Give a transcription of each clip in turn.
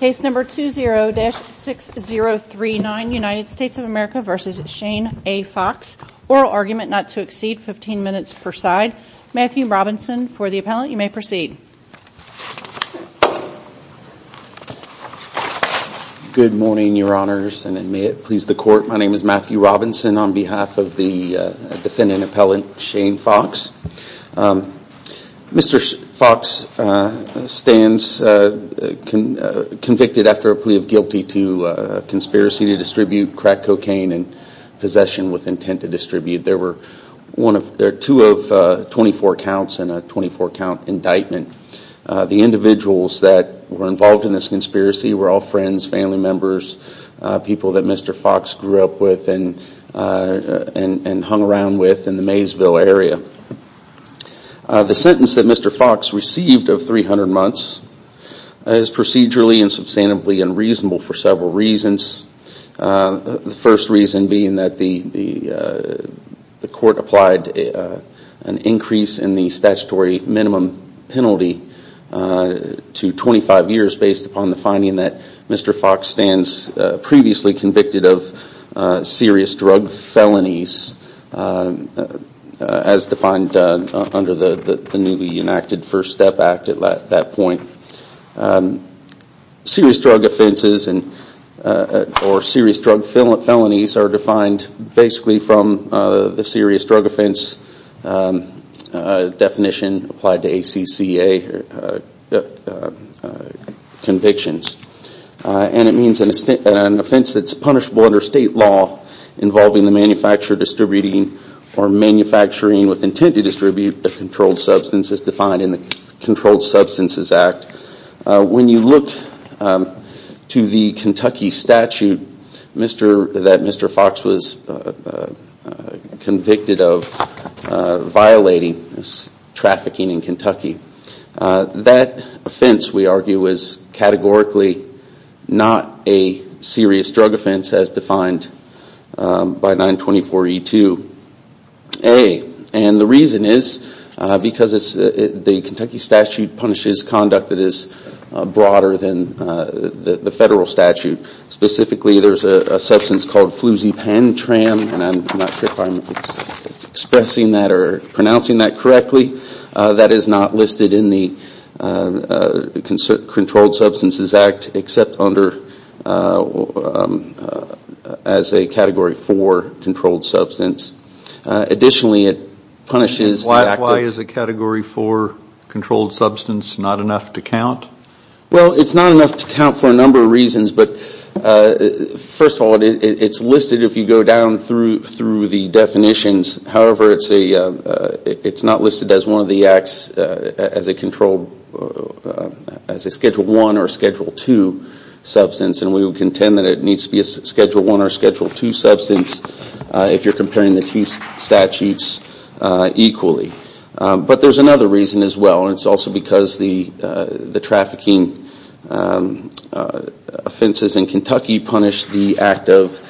Case number 20-6039 United States of America v. Shane A. Fox. Oral argument not to exceed 15 minutes per side. Matthew Robinson for the appellant. You may proceed. Good morning your honors and may it please the court. My name is Matthew Robinson on behalf of the defendant appellant Shane Fox. Mr. Fox stands convicted after a plea of guilty to a conspiracy to distribute crack cocaine in possession with intent to distribute. There are two of 24 counts and a 24 count indictment. The individuals that were involved in this conspiracy were all friends, family members, people that Mr. Fox grew up with and hung around with in the Maysville area. The sentence that Mr. Fox received of 300 months is procedurally and substantively unreasonable for several reasons. The first reason being that the court applied an increase in the statutory minimum penalty to 25 years based upon the finding that Mr. Fox stands previously convicted of serious drug felonies as defined under the newly enacted First Step Act at that point. Serious drug offenses or serious drug felonies are defined basically from the serious drug offense definition applied to ACCA convictions. And it means an offense that is punishable under state law involving the manufacturer distributing or manufacturing with intent to distribute a controlled substance as defined in the Controlled Substances Act. When you look to the Kentucky statute that Mr. Fox was convicted of violating, trafficking in Kentucky, that offense we argue is categorically not a serious drug offense as defined by 924E2A. And the reason is because the Kentucky statute punishes conduct that is broader than the federal statute. Specifically, there's a substance called Fluzepantram, and I'm not sure if I'm expressing that or pronouncing that correctly. That is not listed in the Controlled Substances Act except as a Category 4 controlled substance. Additionally, it punishes... Why is a Category 4 controlled substance not enough to count? Well, it's not enough to count for a number of reasons. But first of all, it's listed if you go down through the definitions. However, it's not listed as one of the acts as a Schedule 1 or Schedule 2 substance. And we would contend that it needs to be a Schedule 1 or Schedule 2 substance if you're comparing the two statutes equally. But there's another reason as well, and it's also because the trafficking offenses in Kentucky punish the act of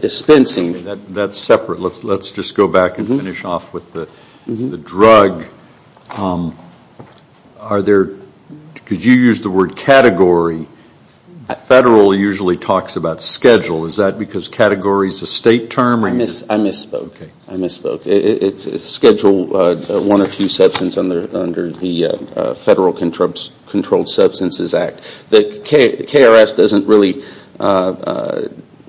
dispensing. That's separate. Let's just go back and finish off with the drug. Could you use the word Category? Federal usually talks about Schedule. Is that because Category is a state term? I misspoke. It's Schedule 1 or 2 substance under the Federal Controlled Substances Act. The KRS doesn't really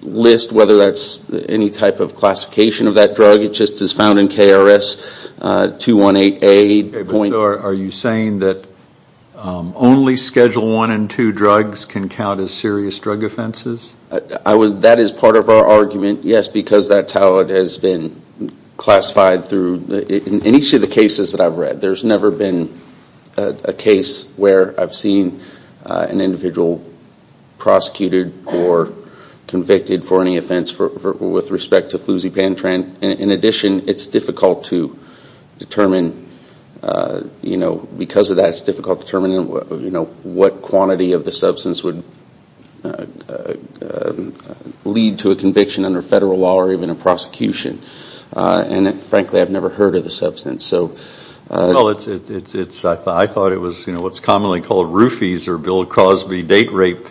list whether that's any type of classification of that drug. It just is found in KRS 218A. Are you saying that only Schedule 1 and 2 drugs can count as serious drug offenses? That is part of our argument, yes, because that's how it has been classified. In each of the cases that I've read, there's never been a case where I've seen an individual prosecuted or convicted for any offense with respect to flusipantran. In addition, it's difficult to determine, because of that, it's difficult to determine what quantity of the substance would lead to a conviction under Federal law or even a prosecution. And frankly, I've never heard of the substance. I thought it was what's commonly called Roofies or Bill Crosby date rape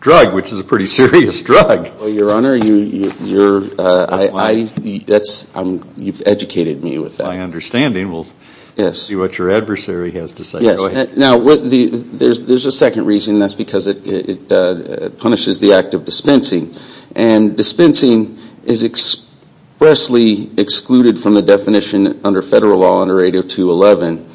drug, which is a pretty serious drug. Your Honor, you've educated me with that. My understanding. We'll see what your adversary has to say. Now, there's a second reason. That's because it punishes the act of dispensing. And dispensing is expressly excluded from the definition under Federal law under 802.11.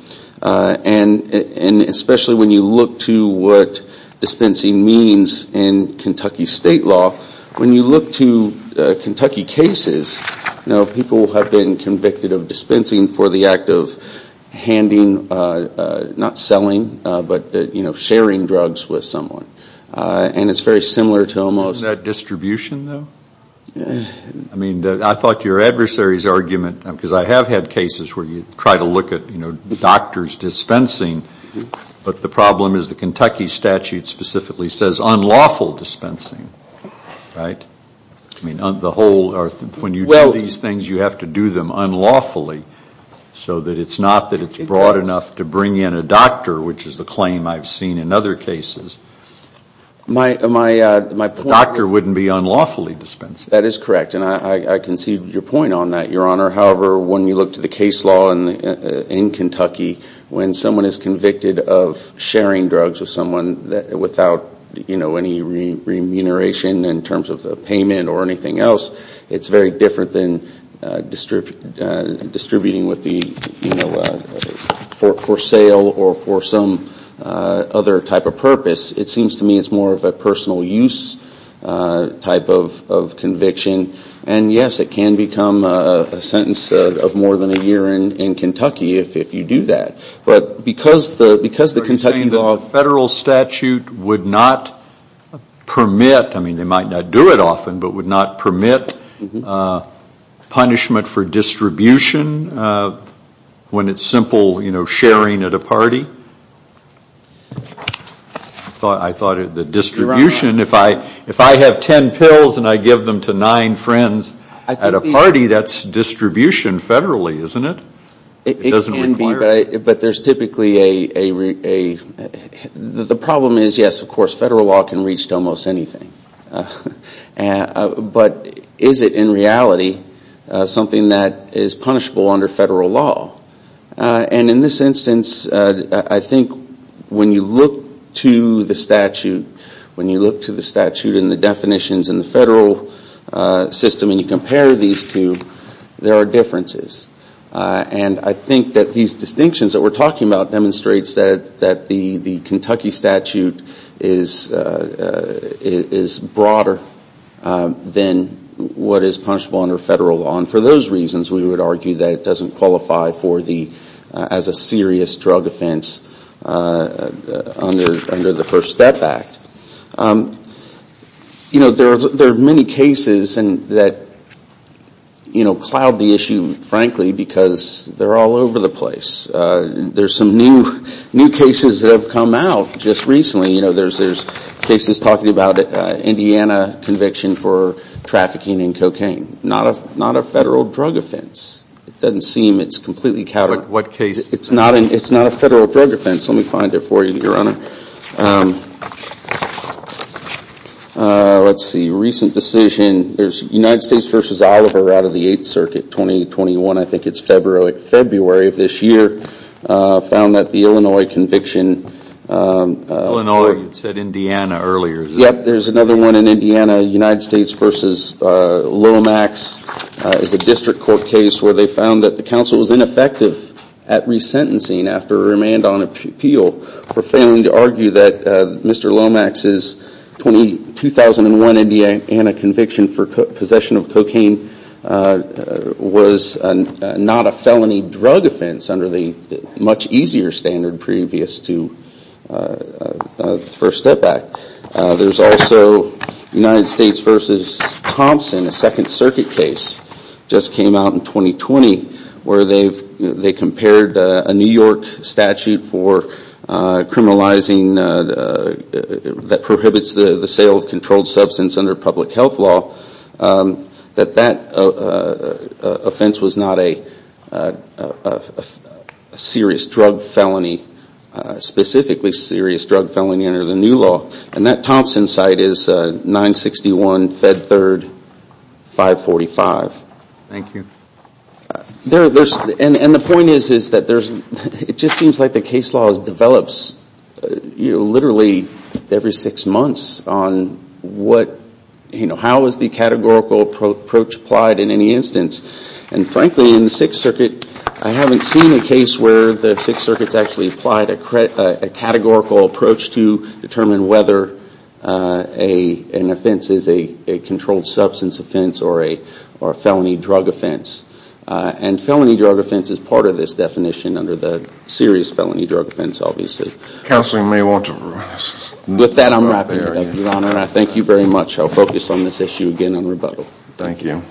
And especially when you look to what dispensing means in Kentucky state law, when you look to Kentucky cases, people have been convicted of dispensing for the act of handing, not selling, but sharing drugs with someone. And it's very similar to almost... Isn't that distribution, though? I mean, I thought your adversary's argument, because I have had cases where you try to look at doctor's dispensing, but the problem is the Kentucky statute specifically says unlawful dispensing, right? I mean, the whole, when you do these things, you have to do them unlawfully, so that it's not that it's broad enough to bring in a doctor, which is the claim I've seen in other cases. The doctor wouldn't be unlawfully dispensing. That is correct. And I concede your point on that, Your Honor. However, when you look to the case law in Kentucky, when someone is convicted of sharing drugs with someone without, you know, any remuneration in terms of payment or anything else, it's very different than distributing with the, you know, for sale or for some other type of purpose. It seems to me it's more of a personal use type of conviction. And, yes, it can become a sentence of more than a year in Kentucky if you do that. But because the Kentucky law... Punishment for distribution when it's simple, you know, sharing at a party. I thought the distribution, if I have ten pills and I give them to nine friends at a party, that's distribution federally, isn't it? It can be, but there's typically a... The problem is, yes, of course, federal law can reach to almost anything. But is it in reality something that is punishable under federal law? And in this instance, I think when you look to the statute, when you look to the statute and the definitions in the federal system and you compare these two, there are differences. And I think that these distinctions that we're talking about demonstrates that the Kentucky statute is broader than what is punishable under federal law. And for those reasons, we would argue that it doesn't qualify as a serious drug offense under the First Step Act. You know, there are many cases that cloud the issue, frankly, because they're all over the place. There's some new cases that have come out just recently. You know, there's cases talking about Indiana conviction for trafficking in cocaine. Not a federal drug offense. It doesn't seem it's completely counter... But what case? It's not a federal drug offense. Let me find it for you, Your Honor. Let's see. Recent decision. There's United States v. Oliver out of the Eighth Circuit, 2021. I think it's February of this year, found that the Illinois conviction... Illinois. You said Indiana earlier. Yep. There's another one in Indiana. United States v. Lomax is a district court case where they found that the counsel was ineffective at resentencing after a remand on appeal for failing to argue that Mr. Lomax's 2001 Indiana conviction for possession of cocaine was not a felony drug offense under the much easier standard previous to First Step Act. There's also United States v. Thompson, a Second Circuit case, just came out in 2020, where they compared a New York statute for criminalizing... that prohibits the sale of controlled substance under public health law, that that offense was not a serious drug felony, specifically serious drug felony under the new law. And that Thompson site is 961 Fed Third 545. Thank you. And the point is that there's... It just seems like the case law develops literally every six months on what... How is the categorical approach applied in any instance? And frankly, in the Sixth Circuit, I haven't seen a case where the Sixth Circuit's actually applied a categorical approach to determine whether an offense is a controlled substance offense or a felony drug offense. And felony drug offense is part of this definition under the serious felony drug offense, obviously. Counsel may want to... With that, I'm wrapping it up, Your Honor. I thank you very much. I'll focus on this issue again on rebuttal. Thank you.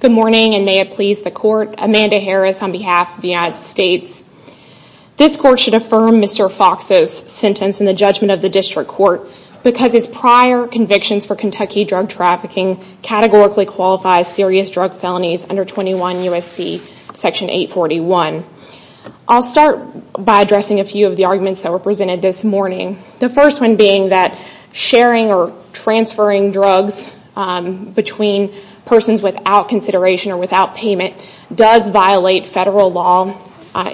Good morning, and may it please the Court. Amanda Harris on behalf of the United States. This Court should affirm Mr. Fox's sentence in the judgment of the District Court because his prior convictions for Kentucky drug trafficking categorically qualify serious drug felonies under 21 U.S.C. section 841. I'll start by addressing a few of the arguments that were presented this morning. The first one being that sharing or transferring drugs between persons without consideration or without payment does violate federal law.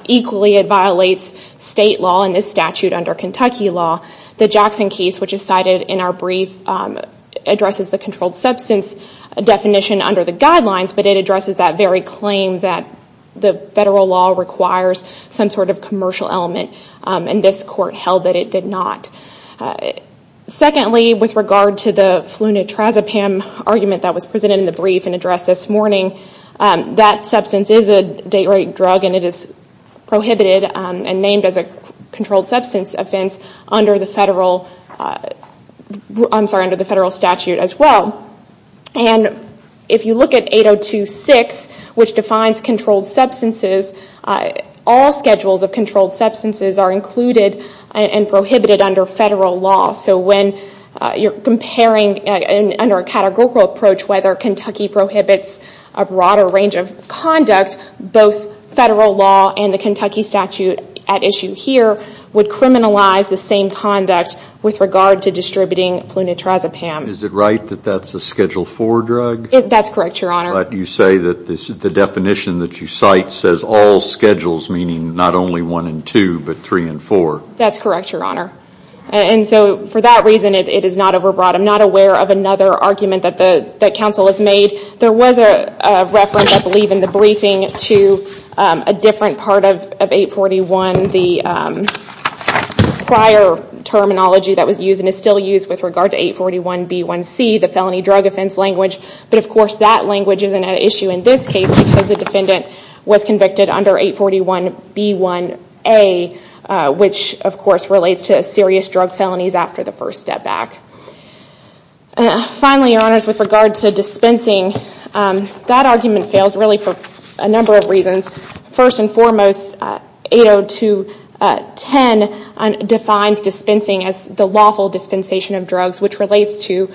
Equally, it violates state law and this statute under Kentucky law. The Jackson case, which is cited in our brief, addresses the controlled substance definition under the guidelines, but it addresses that very claim that the federal law requires some sort of commercial element, and this Court held that it did not. Secondly, with regard to the Flunitrazepam argument that was presented in the brief and addressed this morning, that substance is a date-rate drug and it is prohibited and named as a controlled substance offense under the federal statute as well. And if you look at 802.6, which defines controlled substances, all schedules of controlled substances are included and prohibited under federal law. So when you're comparing under a categorical approach whether Kentucky prohibits a broader range of conduct, both federal law and the Kentucky statute at issue here would criminalize the same conduct with regard to distributing Flunitrazepam. Is it right that that's a Schedule IV drug? That's correct, Your Honor. But you say that the definition that you cite says all schedules, meaning not only one and two, but three and four. That's correct, Your Honor. And so for that reason, it is not overbroad. I'm not aware of another argument that counsel has made. There was a reference, I believe, in the briefing to a different part of 841. The prior terminology that was used and is still used with regard to 841b1c, the felony drug offense language, but of course that language isn't at issue in this case because the defendant was convicted under 841b1a, which of course relates to serious drug felonies after the first step back. Finally, Your Honors, with regard to dispensing, that argument fails really for a number of reasons. First and foremost, 802.10 defines dispensing as the lawful dispensation of drugs, which relates to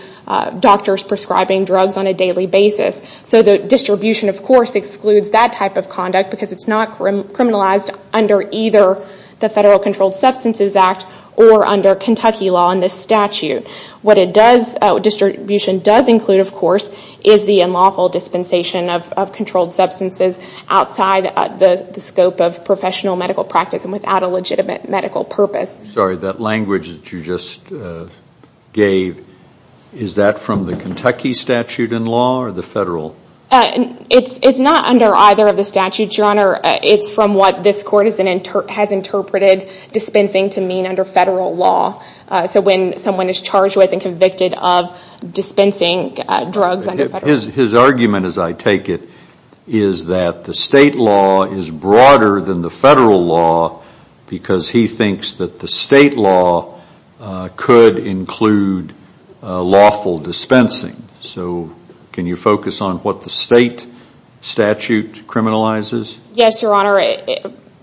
doctors prescribing drugs on a daily basis. So the distribution, of course, excludes that type of conduct because it's not criminalized under either the Federal Controlled Substances Act or under Kentucky law in this statute. What distribution does include, of course, is the unlawful dispensation of controlled substances outside the scope of professional medical practice and without a legitimate medical purpose. Sorry, that language that you just gave, is that from the Kentucky statute in law or the Federal? It's not under either of the statutes, Your Honor. It's from what this Court has interpreted dispensing to mean under Federal law. So when someone is charged with and convicted of dispensing drugs under Federal law. His argument, as I take it, is that the State law is broader than the Federal law because he thinks that the State law could include lawful dispensing. So can you focus on what the State statute criminalizes? Yes, Your Honor.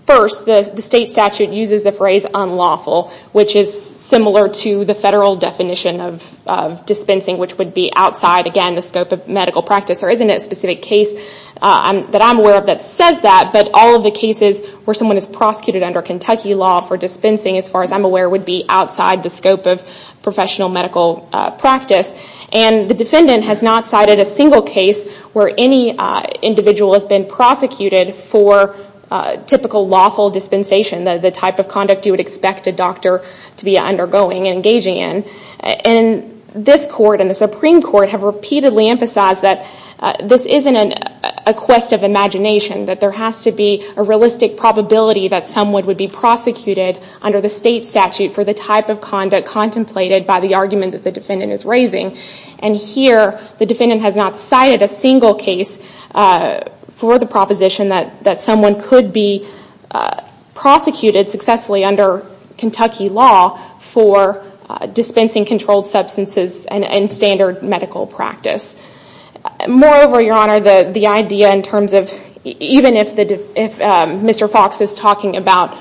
First, the State statute uses the phrase unlawful, which is similar to the Federal definition of dispensing, which would be outside, again, the scope of medical practice. There isn't a specific case that I'm aware of that says that, but all of the cases where someone is prosecuted under Kentucky law for dispensing, as far as I'm aware, would be outside the scope of professional medical practice. And the defendant has not cited a single case where any individual has been prosecuted for typical lawful dispensation, the type of conduct you would expect a doctor to be undergoing and engaging in. And this Court and the Supreme Court have repeatedly emphasized that this isn't a quest of imagination, that there has to be a realistic probability that someone would be prosecuted under the State statute for the type of conduct contemplated by the argument that the defendant is raising. And here the defendant has not cited a single case for the proposition that someone could be prosecuted successfully under Kentucky law for dispensing controlled substances and standard medical practice. Moreover, Your Honor, the idea in terms of, even if Mr. Fox is talking about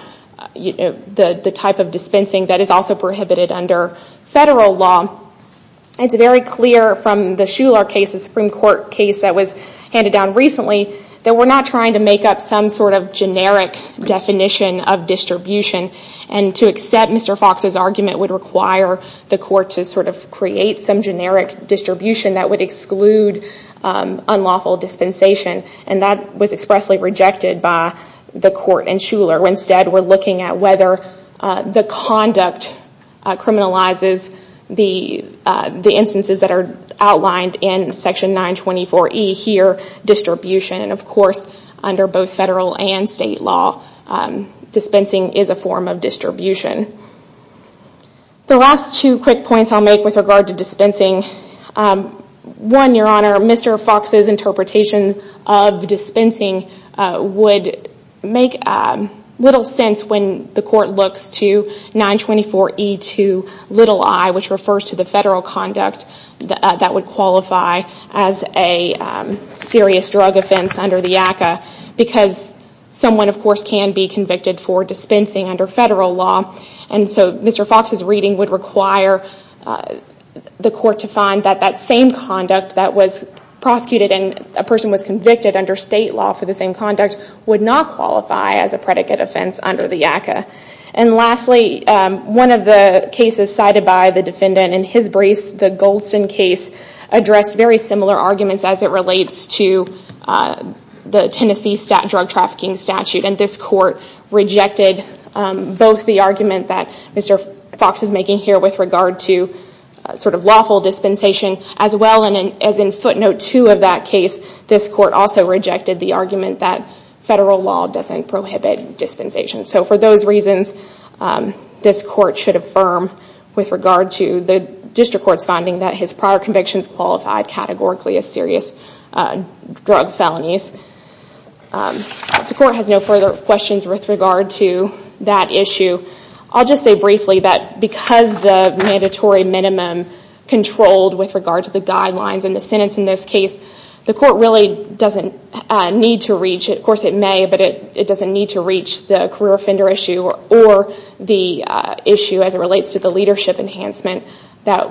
the type of dispensing that is also prohibited under Federal law, it's very clear from the Shuler case, the Supreme Court case that was handed down recently, that we're not trying to make up some sort of generic definition of distribution. And to accept Mr. Fox's argument would require the Court to sort of create some generic distribution that would exclude unlawful dispensation. And that was expressly rejected by the Court and Shuler. Instead, we're looking at whether the conduct criminalizes the instances that are outlined in Section 924E here, distribution. And of course, under both Federal and State law, dispensing is a form of distribution. The last two quick points I'll make with regard to dispensing. One, Your Honor, Mr. Fox's interpretation of dispensing would make little sense when the Court looks to 924E2i, which refers to the Federal conduct that would qualify as a serious drug offense under the ACCA. Because someone, of course, can be convicted for dispensing under Federal law. And so Mr. Fox's reading would require the Court to find that that same conduct that was prosecuted and a person was convicted under State law for the same conduct would not qualify as a predicate offense under the ACCA. And lastly, one of the cases cited by the defendant in his brace, the Goldston case, addressed very similar arguments as it relates to the Tennessee drug trafficking statute. And this Court rejected both the argument that Mr. Fox is making here with regard to sort of lawful dispensation, as well as in footnote 2 of that case, this Court also rejected the argument that Federal law doesn't prohibit dispensation. So for those reasons, this Court should affirm with regard to the District Court's finding that his prior convictions qualified categorically as serious drug felonies. The Court has no further questions with regard to that issue. I'll just say briefly that because the mandatory minimum controlled with regard to the guidelines in the sentence in this case, the Court really doesn't need to reach it. Of course it may, but it doesn't need to reach the career offender issue or the issue as it relates to the leadership enhancement that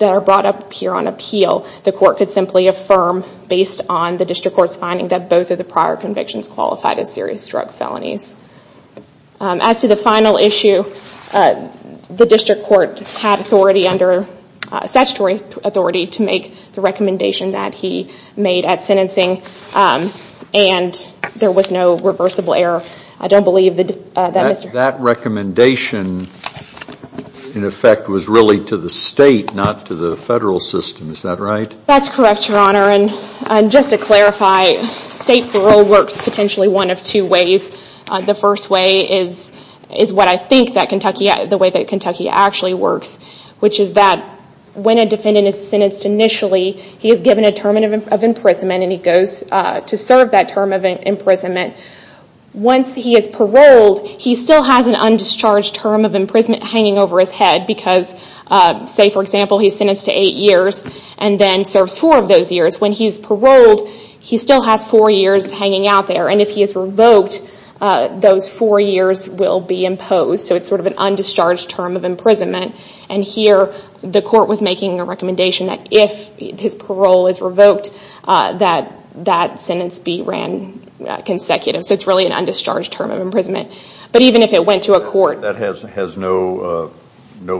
are brought up here on appeal. The Court could simply affirm based on the District Court's finding that both of the prior convictions qualified as serious drug felonies. As to the final issue, the District Court had authority under statutory authority to make the recommendation that he made at sentencing, and there was no reversible error. I don't believe that Mr. That recommendation, in effect, was really to the State, not to the Federal system. Is that right? That's correct, Your Honor. And just to clarify, State parole works potentially one of two ways. The first way is what I think the way that Kentucky actually works, which is that when a defendant is sentenced initially, he is given a term of imprisonment and he goes to serve that term of imprisonment. Once he is paroled, he still has an undischarged term of imprisonment hanging over his head because, say for example, he's sentenced to eight years and then serves four of those years. When he's paroled, he still has four years hanging out there, and if he is revoked, those four years will be imposed. So it's sort of an undischarged term of imprisonment. And here the Court was making a recommendation that if his parole is revoked, that sentence be ran consecutive. So it's really an undischarged term of imprisonment. But even if it went to a court. That has no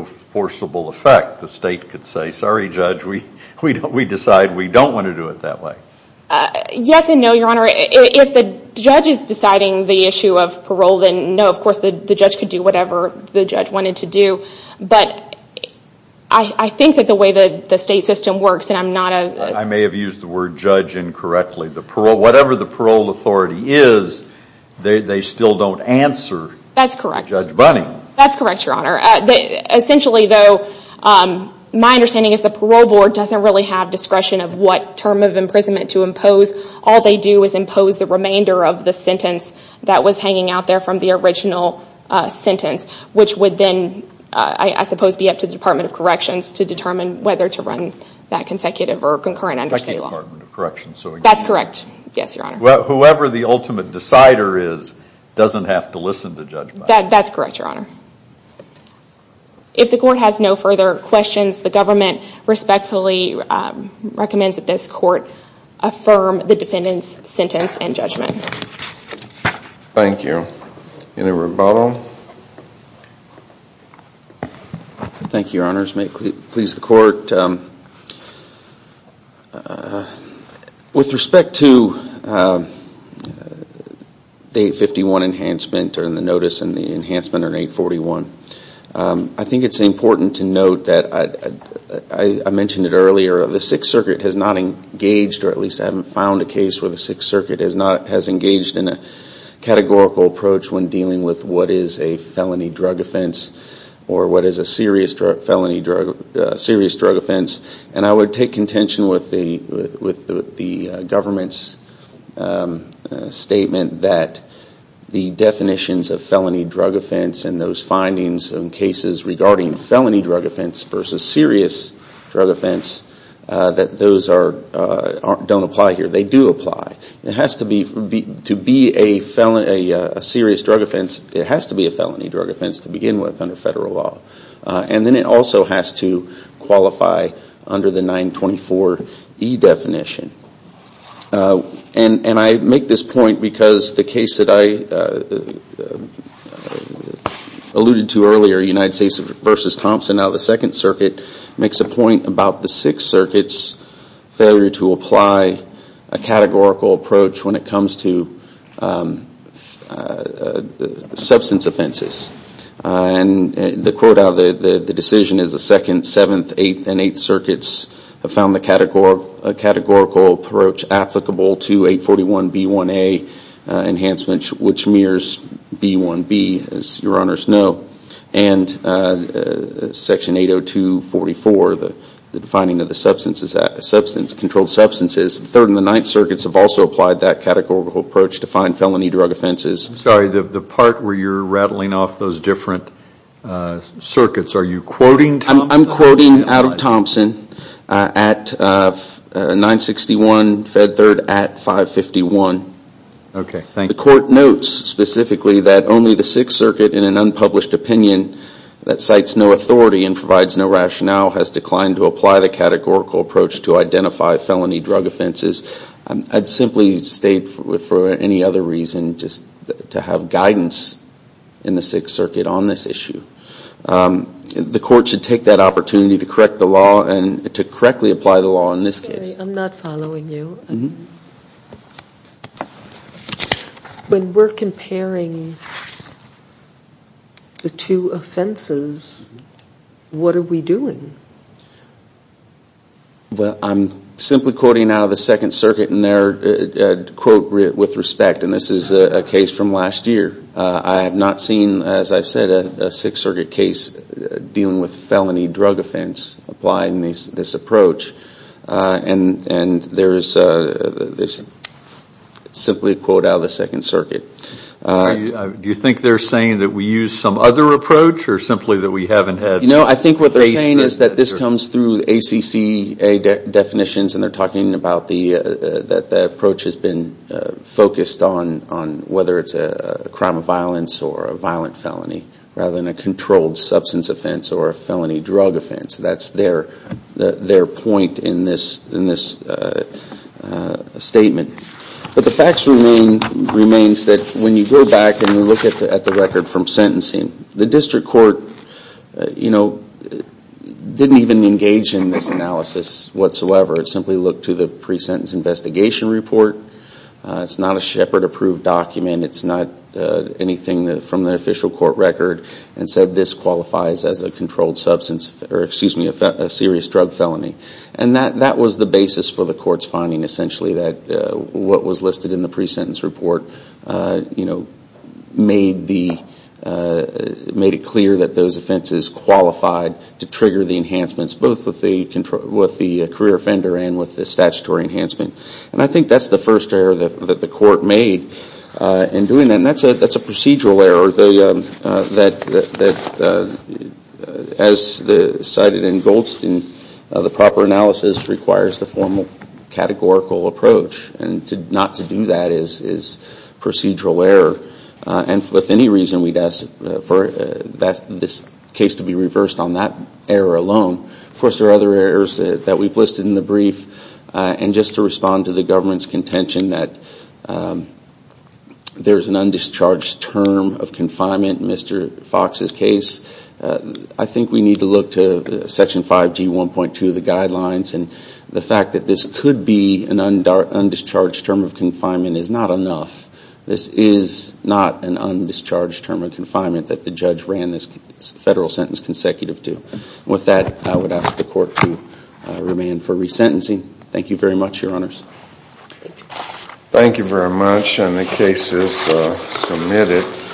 forcible effect. The State could say, sorry, Judge, we decide we don't want to do it that way. Yes and no, Your Honor. If the Judge is deciding the issue of parole, then no, of course, the Judge could do whatever the Judge wanted to do. But I think that the way the State system works, and I'm not a I may have used the word Judge incorrectly. Whatever the parole authority is, they still don't answer Judge Bunning. That's correct, Your Honor. Essentially, though, my understanding is the Parole Board doesn't really have discretion of what term of imprisonment to impose. All they do is impose the remainder of the sentence that was hanging out there from the original sentence, which would then, I suppose, be up to the Department of Corrections to determine whether to run that consecutive or concurrent understate law. Like the Department of Corrections. That's correct, yes, Your Honor. Whoever the ultimate decider is doesn't have to listen to Judge Bunning. That's correct, Your Honor. If the Court has no further questions, the Government respectfully recommends that this Court affirm the defendant's sentence and judgment. Thank you. Any rebuttal? Thank you, Your Honors. May it please the Court. With respect to the 851 enhancement or the notice and the enhancement on 841, I think it's important to note that I mentioned it earlier, the Sixth Circuit has not engaged, or at least I haven't found a case where the Sixth Circuit has engaged in a categorical approach when dealing with what is a felony drug offense or what is a serious drug offense. And I would take contention with the Government's statement that the definitions of felony drug offense and those findings in cases regarding felony drug offense versus serious drug offense, that those don't apply here. They do apply. To be a serious drug offense, it has to be a felony drug offense to begin with under federal law. And then it also has to qualify under the 924E definition. And I make this point because the case that I alluded to earlier, United States v. Thompson, out of the Second Circuit, makes a point about the Sixth Circuit's failure to apply a categorical approach when it comes to substance offenses. And the quote out of the decision is the Second, Seventh, Eighth, and Eighth Circuits have found the categorical approach applicable to 841B1A enhancement, which mirrors B1B, as Your Honors know. And Section 802.44, the defining of the controlled substances. The Third and the Ninth Circuits have also applied that categorical approach to find felony drug offenses. I'm sorry, the part where you're rattling off those different circuits, are you quoting Thompson? I'm quoting out of Thompson at 961, Fed Third at 551. Okay, thank you. The court notes specifically that only the Sixth Circuit in an unpublished opinion that cites no authority and provides no rationale has declined to apply the categorical approach to identify felony drug offenses. I'd simply state for any other reason just to have guidance in the Sixth Circuit on this issue. The court should take that opportunity to correct the law and to correctly apply the law in this case. I'm sorry, I'm not following you. When we're comparing the two offenses, what are we doing? Well, I'm simply quoting out of the Second Circuit in their quote with respect, and this is a case from last year. I have not seen, as I've said, a Sixth Circuit case dealing with felony drug offense applying this approach. And there is simply a quote out of the Second Circuit. Do you think they're saying that we use some other approach or simply that we haven't had? No, I think what they're saying is that this comes through ACC definitions and they're talking about the approach which has been focused on whether it's a crime of violence or a violent felony rather than a controlled substance offense or a felony drug offense. That's their point in this statement. But the fact remains that when you go back and you look at the record from sentencing, the district court didn't even engage in this analysis whatsoever. It simply looked to the pre-sentence investigation report. It's not a Shepard approved document. It's not anything from the official court record and said this qualifies as a controlled substance, or excuse me, a serious drug felony. And that was the basis for the court's finding essentially that what was listed in the pre-sentence report made it clear that those offenses qualified to trigger the enhancements both with the career offender and with the statutory enhancement. And I think that's the first error that the court made in doing that. And that's a procedural error that as cited in Goldstein, the proper analysis requires the formal categorical approach. And not to do that is procedural error. And with any reason we'd ask for this case to be reversed on that error alone. Of course there are other errors that we've listed in the brief. And just to respond to the government's contention that there's an undischarged term of confinement in Mr. Fox's case, I think we need to look to Section 5G 1.2 of the guidelines. And the fact that this could be an undischarged term of confinement is not enough. This is not an undischarged term of confinement that the judge ran this federal sentence consecutive to. With that, I would ask the court to remain for resentencing. Thank you very much, Your Honors. Thank you very much. And the case is submitted.